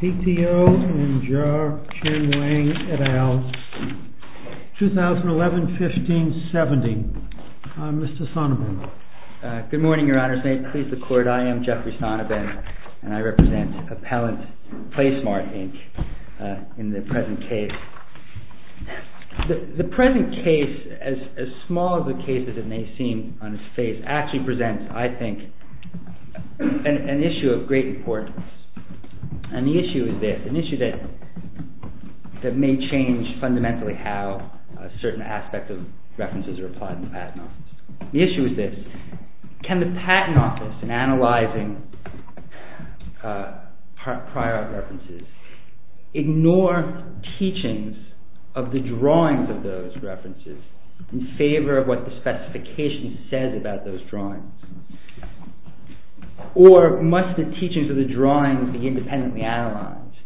v. PTO and Jar, Chen, Wang, et al. 2011-15-70 Mr. Sonnenberg Good morning, Your Honor. May it please the Court, I am Jeffrey Sonnenberg and I represent appellant PLASMART, Inc. in the present case. The present case, as small of a case as it may seem on its face, actually presents, I think, an issue of great importance. And the issue is this, an issue that may change fundamentally how certain aspects of references are applied in the Patent Office. The issue is this. Can the Patent Office, in analyzing prior art references, ignore teachings of the drawings of those references in favor of what the specification says about those drawings? Or must the teachings of the drawings be independently analyzed,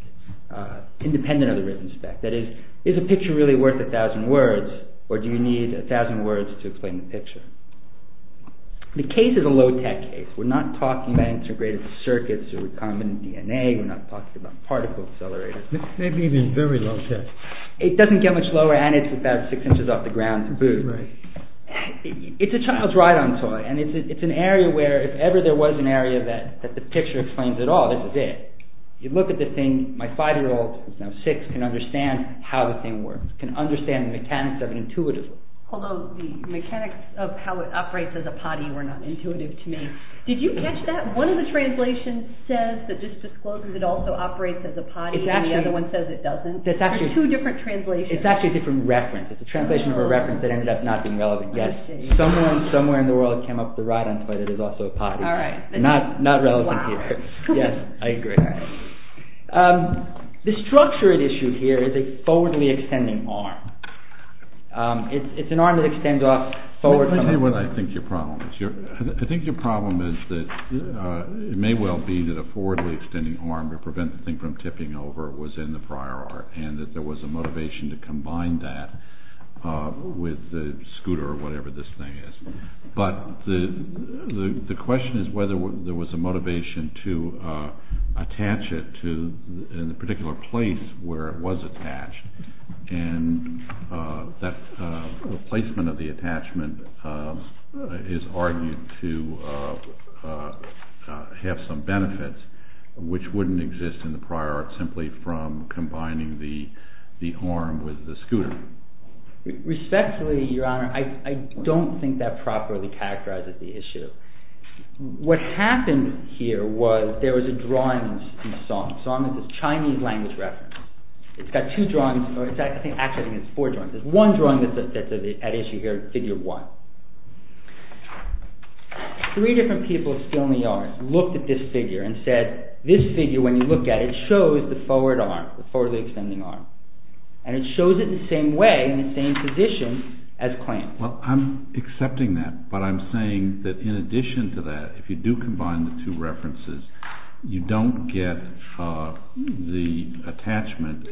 independent of the written spec? That is, is a picture really worth a thousand words or do you need a thousand words to explain the picture? The case is a low-tech case. We're not talking about integrated circuits or recombinant DNA. We're not talking about particle accelerators. It may be very low-tech. It doesn't get much lower and it's about six inches off the ground to boot. It's a child's ride-on toy and it's an area where, if ever there was an area that the picture explains it all, this is it. You look at the thing, my five-year-old, who's now six, can understand how the thing works, can understand the mechanics of it intuitively. Although the mechanics of how it operates as a potty were not intuitive to me. Did you catch that? One of the translations says that, just disclosing that it also operates as a potty and the other one says it doesn't. There's two different translations. It's actually a different reference. It's a translation of a reference that ended up not being relevant yet. Somewhere in the world it came up as a ride-on toy that is also a potty. All right. Not relevant here. Wow. Yes, I agree. The structure at issue here is a forwardly extending arm. It's an arm that extends off forward. Let me tell you what I think your problem is. I think your problem is that it may well be that a forwardly extending arm to prevent the thing from tipping over was in the prior art and that there was a motivation to combine that with the scooter or whatever this thing is. But the question is whether there was a motivation to attach it to a particular place where it was attached and that the placement of the attachment is argued to have some benefits which wouldn't exist in the prior art simply from combining the arm with the scooter. Respectfully, your honor, I don't think that properly characterizes the issue. What happened here was there was a drawing in Song. Song is a Chinese language reference. It's got two drawings. Actually, I think it's four drawings. There's one drawing that's at issue here, figure one. Three different people still in the yard looked at this figure and said, this figure when you look at it shows the forward arm, the forwardly extending arm, and it shows it the same way in the same position as Clamp. Well, I'm accepting that, but I'm saying that in addition to that, if you do combine the two references, you don't get the attachment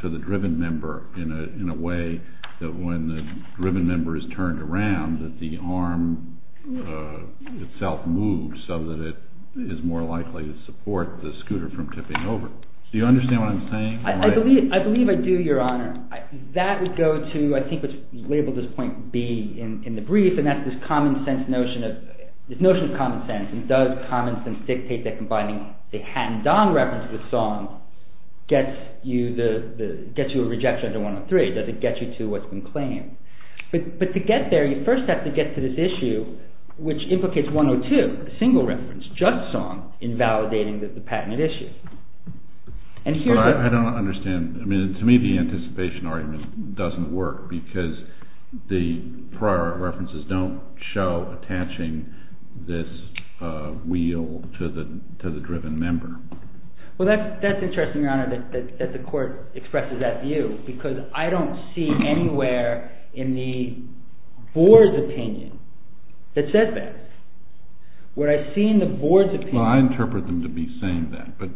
to the driven member in a way that when the driven member is turned around that the arm itself moves so that it is more likely to support the scooter from tipping over. Do you understand what I'm saying? I believe I do, your honor. That would go to I think what's labeled as point B in the brief, and that's this notion of common sense. Does common sense dictate that combining the Han Dong reference with Song gets you a rejection under 103? Does it get you to what's been claimed? But to get there, you first have to get to this issue which implicates 102, a single reference, just Song, in validating the patented issue. But I don't understand. I mean, to me the anticipation argument doesn't work because the prior references don't show attaching this wheel to the driven member. Well, that's interesting, your honor, that the court expresses that view because I don't see anywhere in the board's opinion that says that. What I see in the board's opinion— Well, I interpret them to be saying that, but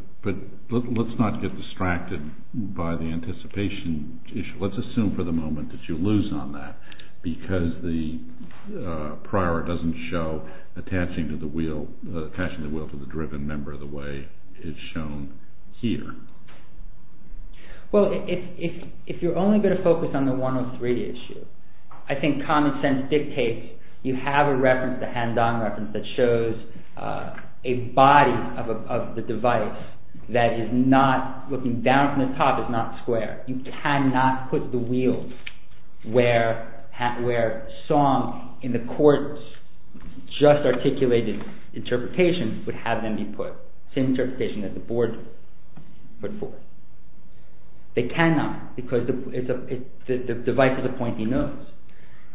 let's not get distracted by the anticipation issue. Let's assume for the moment that you lose on that because the prior doesn't show attaching the wheel to the driven member the way it's shown here. Well, if you're only going to focus on the 103 issue, I think common sense dictates you have a reference, a hands-on reference, that shows a body of the device that is not, looking down from the top, is not square. You cannot put the wheel where Song, in the court's just articulated interpretation, would have them be put, the same interpretation that the board put forth. They cannot because the device is a pointy nose.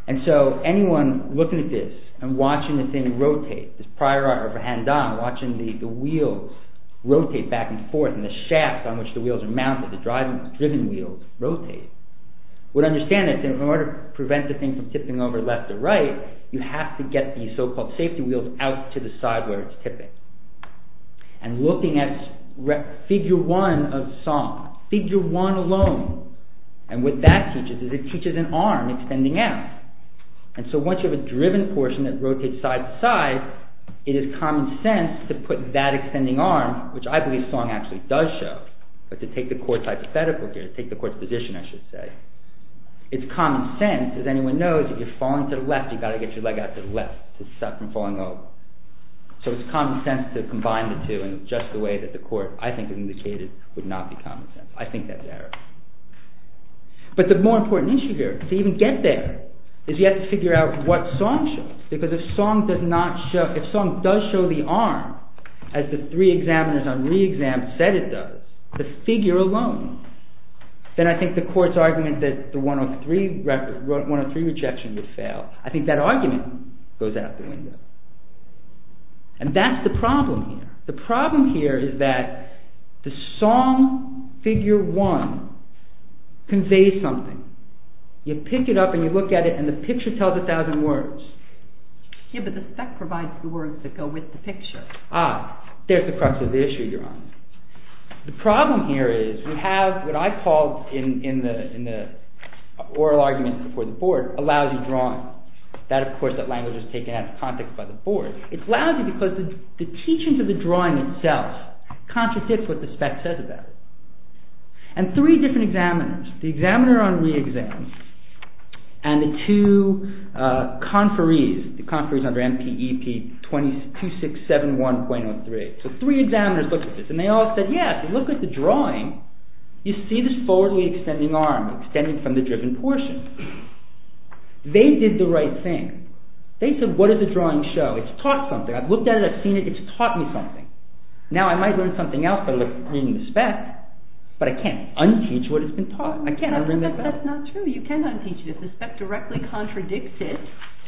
And so anyone looking at this and watching the thing rotate, this prior art of a hands-on, watching the wheels rotate back and forth and the shaft on which the wheels are mounted, the driven wheels, rotate, would understand that in order to prevent the thing from tipping over left to right, you have to get the so-called safety wheels out to the side where it's tipping. And looking at figure one of Song, figure one alone, and what that teaches is it teaches an arm extending out. And so once you have a driven portion that rotates side to side, it is common sense to put that extending arm, which I believe Song actually does show, but to take the court's hypothetical here, to take the court's position, I should say, it's common sense, as anyone knows, if you're falling to the left, you've got to get your leg out to the left to stop from falling over. So it's common sense to combine the two in just the way that the court, I think, has indicated would not be common sense. I think that's error. But the more important issue here, to even get there, is you have to figure out what Song shows. Because if Song does show the arm, as the three examiners on re-exam said it does, the figure alone, then I think the court's argument that the 103 rejection would fail, I think that argument goes out the window. And that's the problem here. The problem here is that the Song figure 1 conveys something. You pick it up and you look at it and the picture tells a thousand words. Yeah, but the spec provides the words that go with the picture. Ah, there's the crux of the issue, Your Honor. The problem here is we have what I call, in the oral argument before the board, a lousy drawing. That, of course, that language was taken out of context by the board. It's lousy because the teachings of the drawing itself contradicts what the spec says about it. And three different examiners, the examiner on re-exam, and the two conferees, the conferees under MPEP 2671.03. So three examiners looked at this and they all said, Yeah, if you look at the drawing, you see this forwardly extending arm, extending from the driven portion. They did the right thing. They said, What does the drawing show? It's taught something. I've looked at it. I've seen it. It's taught me something. Now I might learn something else by reading the spec, but I can't un-teach what it's been taught. I can't un-teach it. That's not true. You can un-teach it. If the spec directly contradicts it,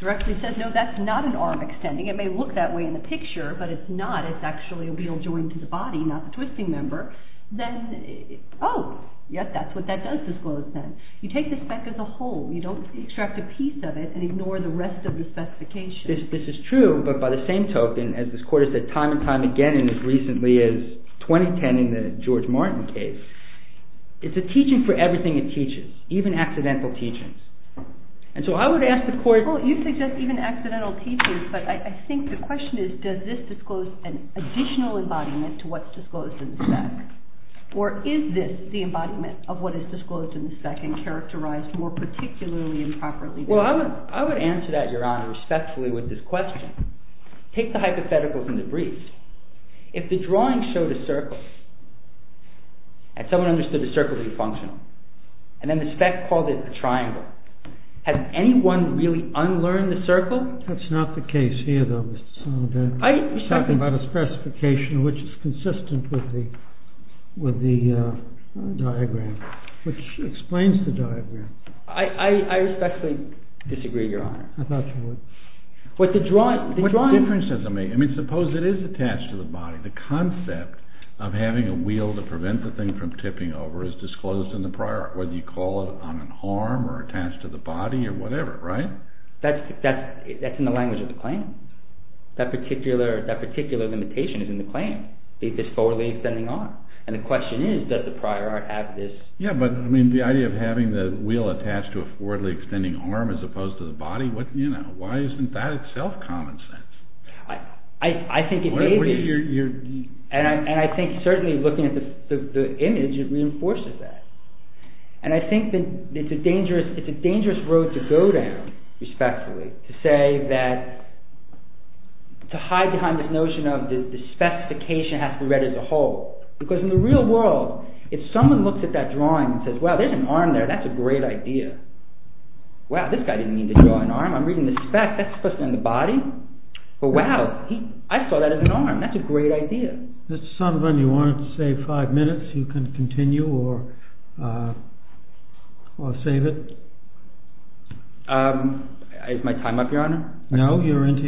directly says, No, that's not an arm extending. It may look that way in the picture, but it's not. It's actually a real joint to the body, not the twisting member. Then, oh, yes, that's what that does disclose then. You take the spec as a whole. You don't extract a piece of it and ignore the rest of the specification. This is true, but by the same token, as this Court has said time and time again and as recently as 2010 in the George Martin case, it's a teaching for everything it teaches, even accidental teachings. And so I would ask the Court— Well, you suggest even accidental teachings, but I think the question is does this disclose an additional embodiment to what's disclosed in the spec? Or is this the embodiment of what is disclosed in the spec and characterized more particularly improperly? Well, I would answer that, Your Honor, respectfully with this question. Take the hypotheticals in the briefs. If the drawing showed a circle, and someone understood the circle to be functional, and then the spec called it a triangle, has anyone really unlearned the circle? That's not the case here, though, Mr. Soledad. You're talking about a specification which is consistent with the diagram, which explains the diagram. I respectfully disagree, Your Honor. I thought you would. What difference does it make? I mean, suppose it is attached to the body. The concept of having a wheel to prevent the thing from tipping over is disclosed in the prior art, whether you call it on an arm or attached to the body or whatever, right? That's in the language of the claim. That particular limitation is in the claim, is this forwardly extending arm. And the question is, does the prior art have this? Yeah, but the idea of having the wheel attached to a forwardly extending arm as opposed to the body, why isn't that itself common sense? I think it may be. And I think certainly looking at the image, it reinforces that. And I think it's a dangerous road to go down, respectfully, to say that, to hide behind this notion of the specification has to be read as a whole. Because in the real world, if someone looks at that drawing and says, wow, there's an arm there, that's a great idea. Wow, this guy didn't mean to draw an arm. I'm reading the spec, that's supposed to end the body? But wow, I saw that as an arm, that's a great idea. Mr. Sullivan, you wanted to save five minutes. You can continue or save it. Is my time up, Your Honor? No, you're into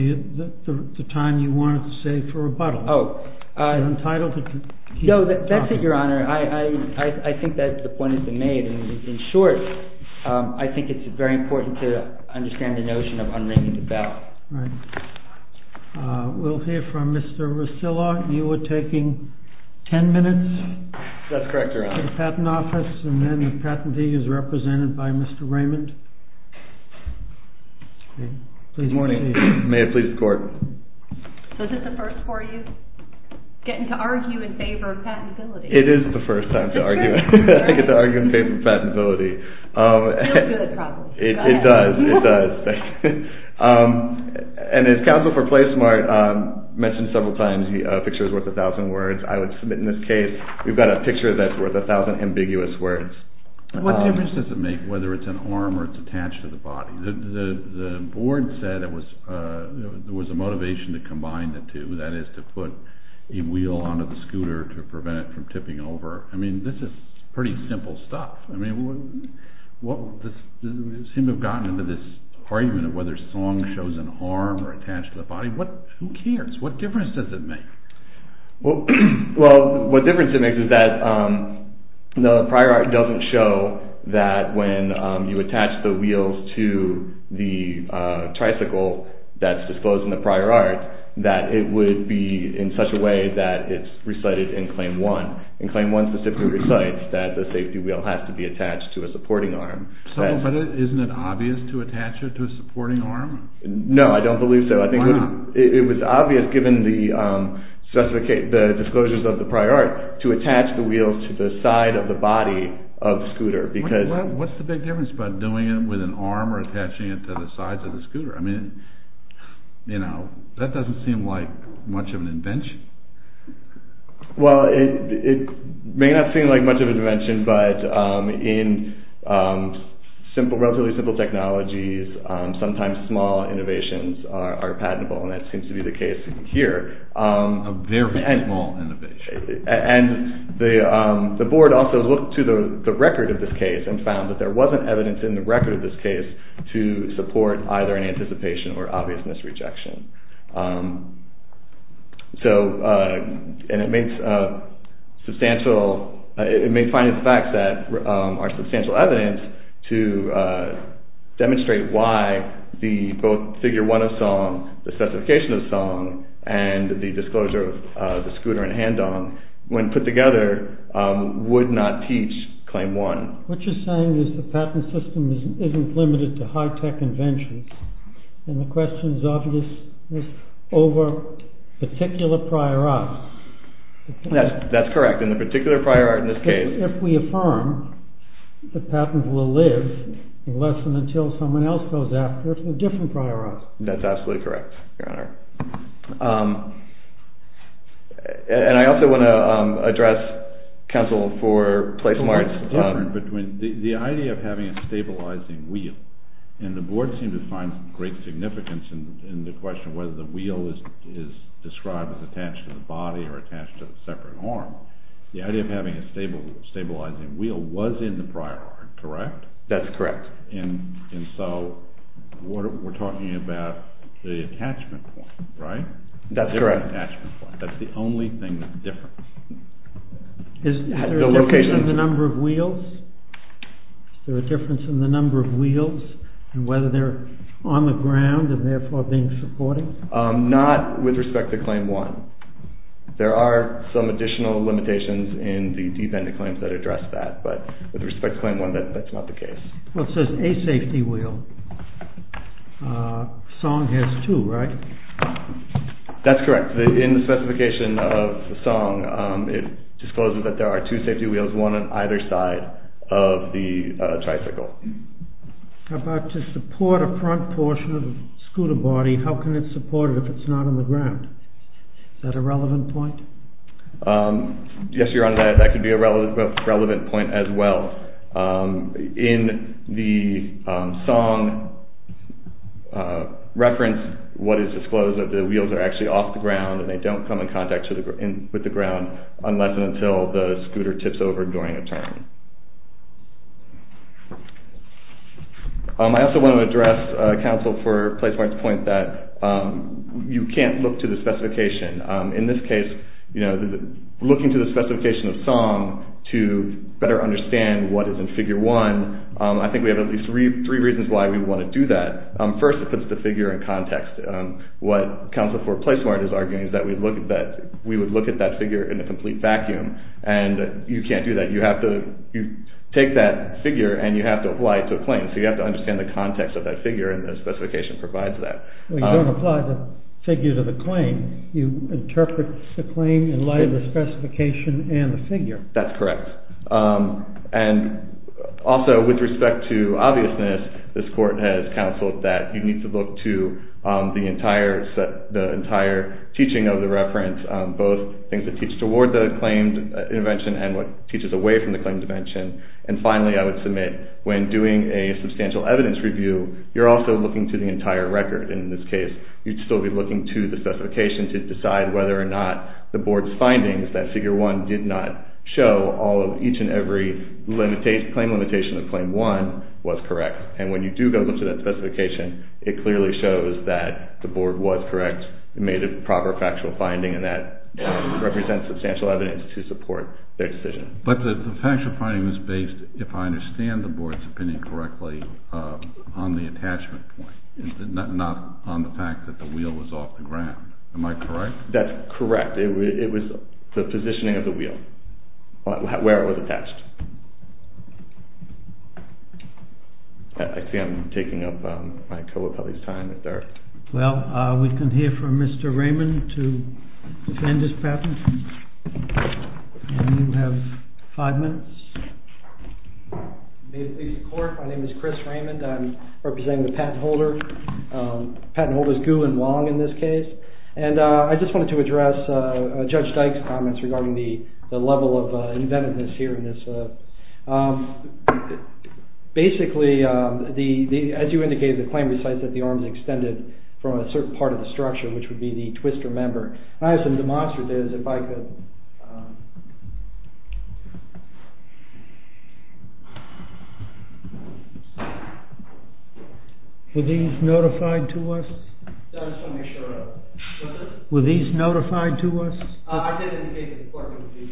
the time you wanted to save for rebuttal. No, that's it, Your Honor. I think that the point has been made. In short, I think it's very important to understand the notion of unringing the bell. Right. We'll hear from Mr. Rosillo. You were taking ten minutes? That's correct, Your Honor. The patent office and then the patentee is represented by Mr. Raymond. Good morning. May it please the Court. So is this the first for you? Getting to argue in favor of patentability. It is the first time I get to argue in favor of patentability. It feels good, it probably feels good. It does, it does. And as counsel for Play Smart mentioned several times, a picture is worth a thousand words. I would submit in this case, we've got a picture that's worth a thousand ambiguous words. What difference does it make whether it's an arm or it's attached to the body? The board said there was a motivation to combine the two, that is to put a wheel onto the scooter to prevent it from tipping over. I mean, this is pretty simple stuff. I mean, we seem to have gotten into this argument of whether song shows in harm or attached to the body. Who cares? What difference does it make? Well, what difference it makes is that the prior art doesn't show that when you attach the wheels to the tricycle that's disclosed in the prior art that it would be in such a way that it's recited in Claim 1. In Claim 1 specifically recites that the safety wheel has to be attached to a supporting arm. But isn't it obvious to attach it to a supporting arm? No, I don't believe so. It was obvious given the disclosures of the prior art to attach the wheels to the side of the body of the scooter. What's the big difference about doing it with an arm or attaching it to the sides of the scooter? I mean, that doesn't seem like much of an invention. Well, it may not seem like much of an invention, but in relatively simple technologies sometimes small innovations are patentable, and that seems to be the case here. A very small innovation. And the board also looked to the record of this case and found that there wasn't evidence in the record of this case to support either an anticipation or obvious misrejection. It may find it's fact that there's substantial evidence to demonstrate why both Figure 1 of Song, the specification of Song, and the disclosure of the scooter and hand-on, when put together, would not teach Claim 1. What you're saying is the patent system isn't limited to high-tech inventions, and the question is obvious over particular prior arts. That's correct. And the particular prior art in this case... If we affirm, the patent will live unless and until someone else goes after it with a different prior art. That's absolutely correct, Your Honor. And I also want to address, counsel, for place marks. The idea of having a stabilizing wheel, and the board seemed to find great significance in the question whether the wheel is described as attached to the body or attached to a separate arm. The idea of having a stabilizing wheel was in the prior art, correct? That's correct. And so we're talking about the attachment point, right? That's correct. The attachment point. That's the only thing that's different. Is there a difference in the number of wheels? Is there a difference in the number of wheels, and whether they're on the ground and therefore being supported? Not with respect to Claim 1. There are some additional limitations in the Defender Claims that address that, but with respect to Claim 1, that's not the case. Well, it says a safety wheel. Song has two, right? That's correct. In the specification of Song, it discloses that there are two safety wheels, one on either side of the tricycle. How about to support a front portion of the scooter body, how can it support it if it's not on the ground? Is that a relevant point? Yes, Your Honor, that could be a relevant point as well. In the Song reference, what is disclosed is that the wheels are actually off the ground and they don't come in contact with the ground unless and until the scooter tips over during a turn. I also want to address counsel for Placemark's point that you can't look to the specification. In this case, looking to the specification of Song to better understand what is in Figure 1, I think we have at least three reasons why we want to do that. First, it puts the figure in context. What counsel for Placemark is arguing is that we would look at that figure in a complete vacuum and you can't do that. You have to take that figure and you have to apply it to a claim, so you have to understand the context of that figure and the specification provides that. You don't apply the figure to the claim. You interpret the claim in light of the specification and the figure. That's correct. And also, with respect to obviousness, this court has counseled that you need to look to the entire teaching of the reference, both things that teach toward the claimed intervention and what teaches away from the claimed intervention. And finally, I would submit, when doing a substantial evidence review, you're also looking to the entire record. In this case, you'd still be looking to the specification to decide whether or not the board's findings that Figure 1 did not show all of each and every claim limitation of Claim 1 was correct. And when you do go to that specification, it clearly shows that the board was correct, made a proper factual finding, and that represents substantial evidence to support their decision. But the factual finding was based, if I understand the board's opinion correctly, on the attachment point, not on the fact that the wheel was off the ground. Am I correct? That's correct. It was the positioning of the wheel, where it was attached. I see I'm taking up my co-appellee's time. Well, we can hear from Mr. Raymond to defend his patent. And you have five minutes. May it please the Court. My name is Chris Raymond. I'm representing the patent holder, patent holders Gu and Wong in this case. And I just wanted to address Judge Dyke's comments regarding the level of inventiveness here in this. Basically, as you indicated, the claim recites that the arms extended from a certain part of the structure, which would be the twister member. And I have some demonstrators, if I could. Were these notified to us? Were these notified to us? I did indicate this to the Court. Excuse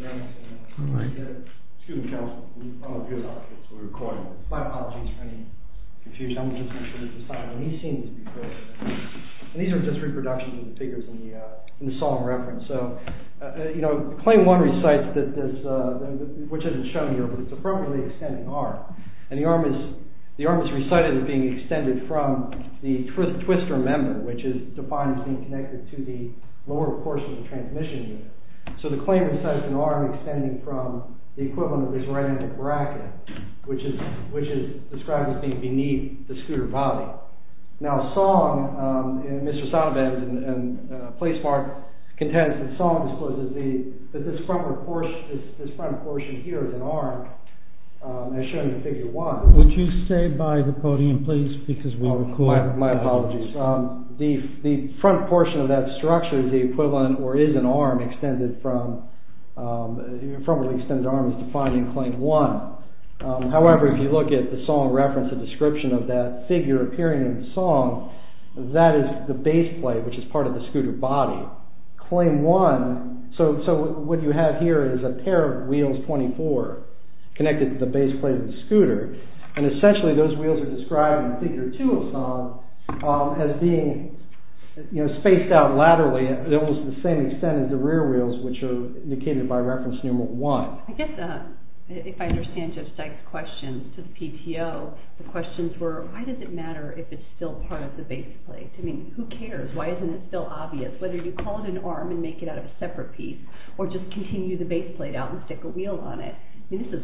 me, counsel. I'm a viewer doctor, so we're recording. My apologies for any confusion. I'm just going to decide when he's seen this before. And these are just reproductions of the figures in the solemn reference. So claim one recites, which isn't shown here, but it's appropriately extending arm. And the arm is recited as being extended from the twister member. Which is defined as being connected to the lower portion of the transmission unit. So the claim recites an arm extending from the equivalent of the ceramic bracket, which is described as being beneath the scooter body. Now, Song, and Mr. Sonnevans, and Placemark, contends that Song discloses that this front portion here is an arm, as shown in figure one. Would you stay by the podium, please, because we're recording. My apologies. The front portion of that structure is the equivalent, or is an arm, extended from where the extended arm is defined in claim one. However, if you look at the solemn reference, the description of that figure appearing in Song, that is the base plate, which is part of the scooter body. Claim one, so what you have here is a pair of wheels, 24, connected to the base plate of the scooter. And essentially, those wheels are described in figure two of Song as being spaced out laterally, almost to the same extent as the rear wheels, which are indicated by reference number one. I guess, if I understand Judge Dyke's question to the PTO, the questions were, why does it matter if it's still part of the base plate? I mean, who cares? Why isn't it still obvious? Whether you call it an arm and make it out of a separate piece, or just continue the base plate out and stick a wheel on it. I mean, this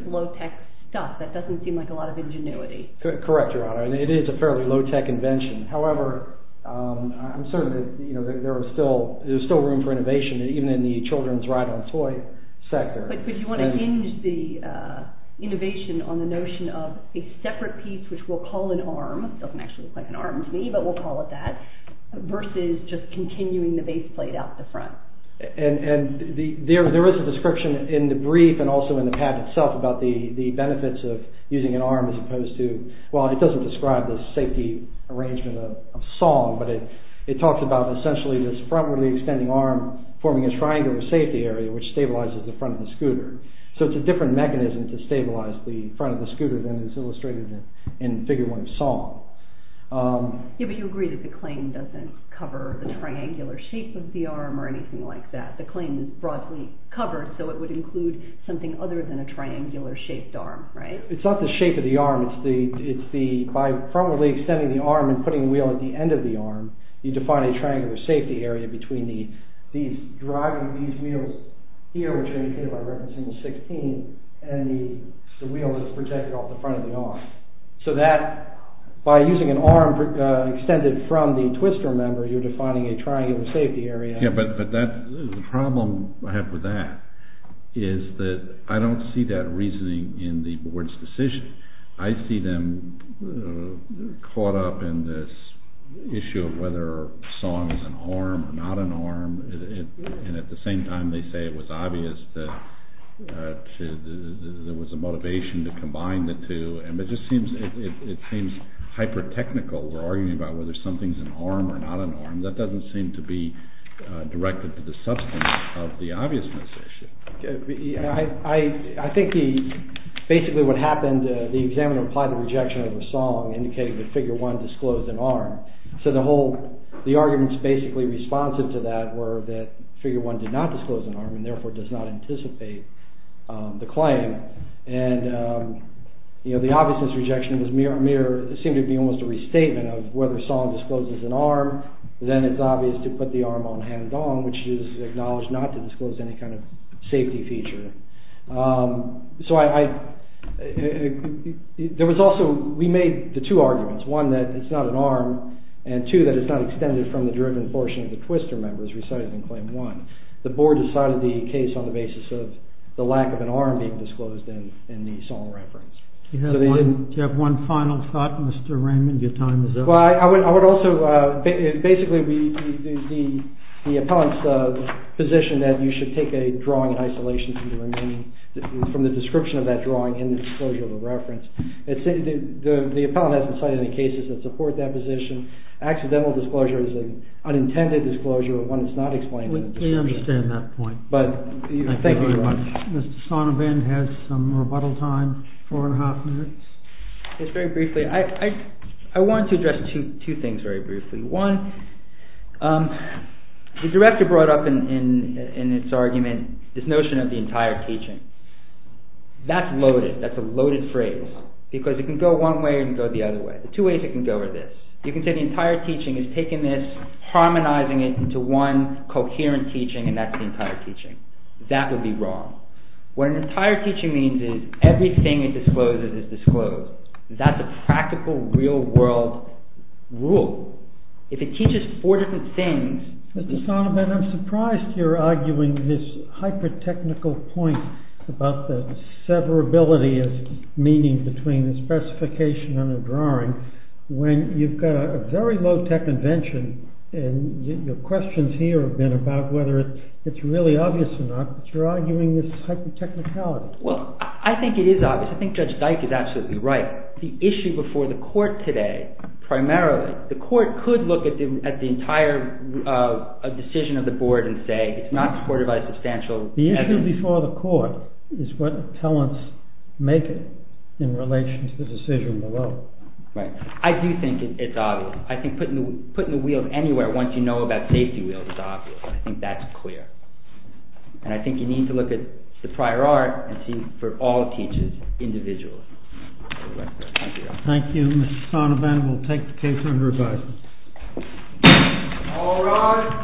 is low-tech stuff. That doesn't seem like a lot of ingenuity. Correct, Your Honor. It is a fairly low-tech invention. However, I'm certain that there is still room for innovation, even in the children's ride-on toy sector. But you want to hinge the innovation on the notion of a separate piece, which we'll call an arm. It doesn't actually look like an arm to me, but we'll call it that, versus just continuing the base plate out the front. And there is a description in the brief and also in the patent itself about the benefits of using an arm as opposed to... Well, it doesn't describe the safety arrangement of Song, but it talks about essentially this frontwardly extending arm forming a triangular safety area which stabilizes the front of the scooter. So it's a different mechanism to stabilize the front of the scooter than is illustrated in Figure 1 of Song. Yeah, but you agree that the claim doesn't cover the triangular shape of the arm or anything like that. The claim is broadly covered, so it would include something other than a triangular-shaped arm, right? It's not the shape of the arm. It's by frontwardly extending the arm and putting the wheel at the end of the arm, you define a triangular safety area between driving these wheels here, which I indicated by referencing the 16, and the wheel that's protected off the front of the arm. So that, by using an arm extended from the twister member, you're defining a triangular safety area. Yeah, but the problem I have with that is that I don't see that reasoning in the board's decision. I see them caught up in this issue of whether Song is an arm or not an arm, and at the same time they say it was obvious that there was a motivation to combine the two, and it just seems hyper-technical. We're arguing about whether something's an arm or not an arm. That doesn't seem to be directed to the substance of the obviousness issue. I think basically what happened, the examiner applied the rejection of Song, indicating that Figure 1 disclosed an arm. So the arguments basically responsive to that were that Figure 1 did not disclose an arm, and therefore does not anticipate the claim. The obviousness rejection seemed to be almost a restatement of whether Song discloses an arm, then it's obvious to put the arm on hand-on, which is acknowledged not to disclose any kind of safety feature. We made the two arguments, one, that it's not an arm, and two, that it's not extended from the driven portion of the twister member as recited in Claim 1. The board decided the case on the basis of the lack of an arm being disclosed in the Song reference. Do you have one final thought, Mr. Raymond? Your time is up. I would also, basically the appellant's position that you should take a drawing in isolation from the description of that drawing in the disclosure of the reference. The appellant hasn't cited any cases that support that position. Accidental disclosure is an unintended disclosure when it's not explained in the description. We understand that point. Thank you very much. Mr. Sonnebend has some rebuttal time, four and a half minutes. Just very briefly, I wanted to address two things very briefly. One, the director brought up in its argument this notion of the entire teaching. That's loaded, that's a loaded phrase, because it can go one way or it can go the other way. The two ways it can go are this. You can say the entire teaching is taking this, harmonizing it into one coherent teaching, and that's the entire teaching. That would be wrong. What an entire teaching means is everything it discloses is disclosed. That's a practical, real-world rule. If it teaches four different things... Mr. Sonnebend, I'm surprised you're arguing this hyper-technical point about the severability of meaning between a specification and a drawing when you've got a very low-tech invention and your questions here have been about whether it's really obvious or not, but you're arguing this hyper-technicality. Well, I think it is obvious. I think Judge Dike is absolutely right. The issue before the court today, primarily, the court could look at the entire decision of the board and say it's not supported by substantial evidence. The issue before the court is what appellants make in relation to the decision below. I do think it's obvious. I think putting the wheels anywhere once you know about safety wheels is obvious. I think that's clear. And I think you need to look at the prior art and see for all teachers, individually. Thank you, Mr. Sonnebend. We'll take the case under review. All rise.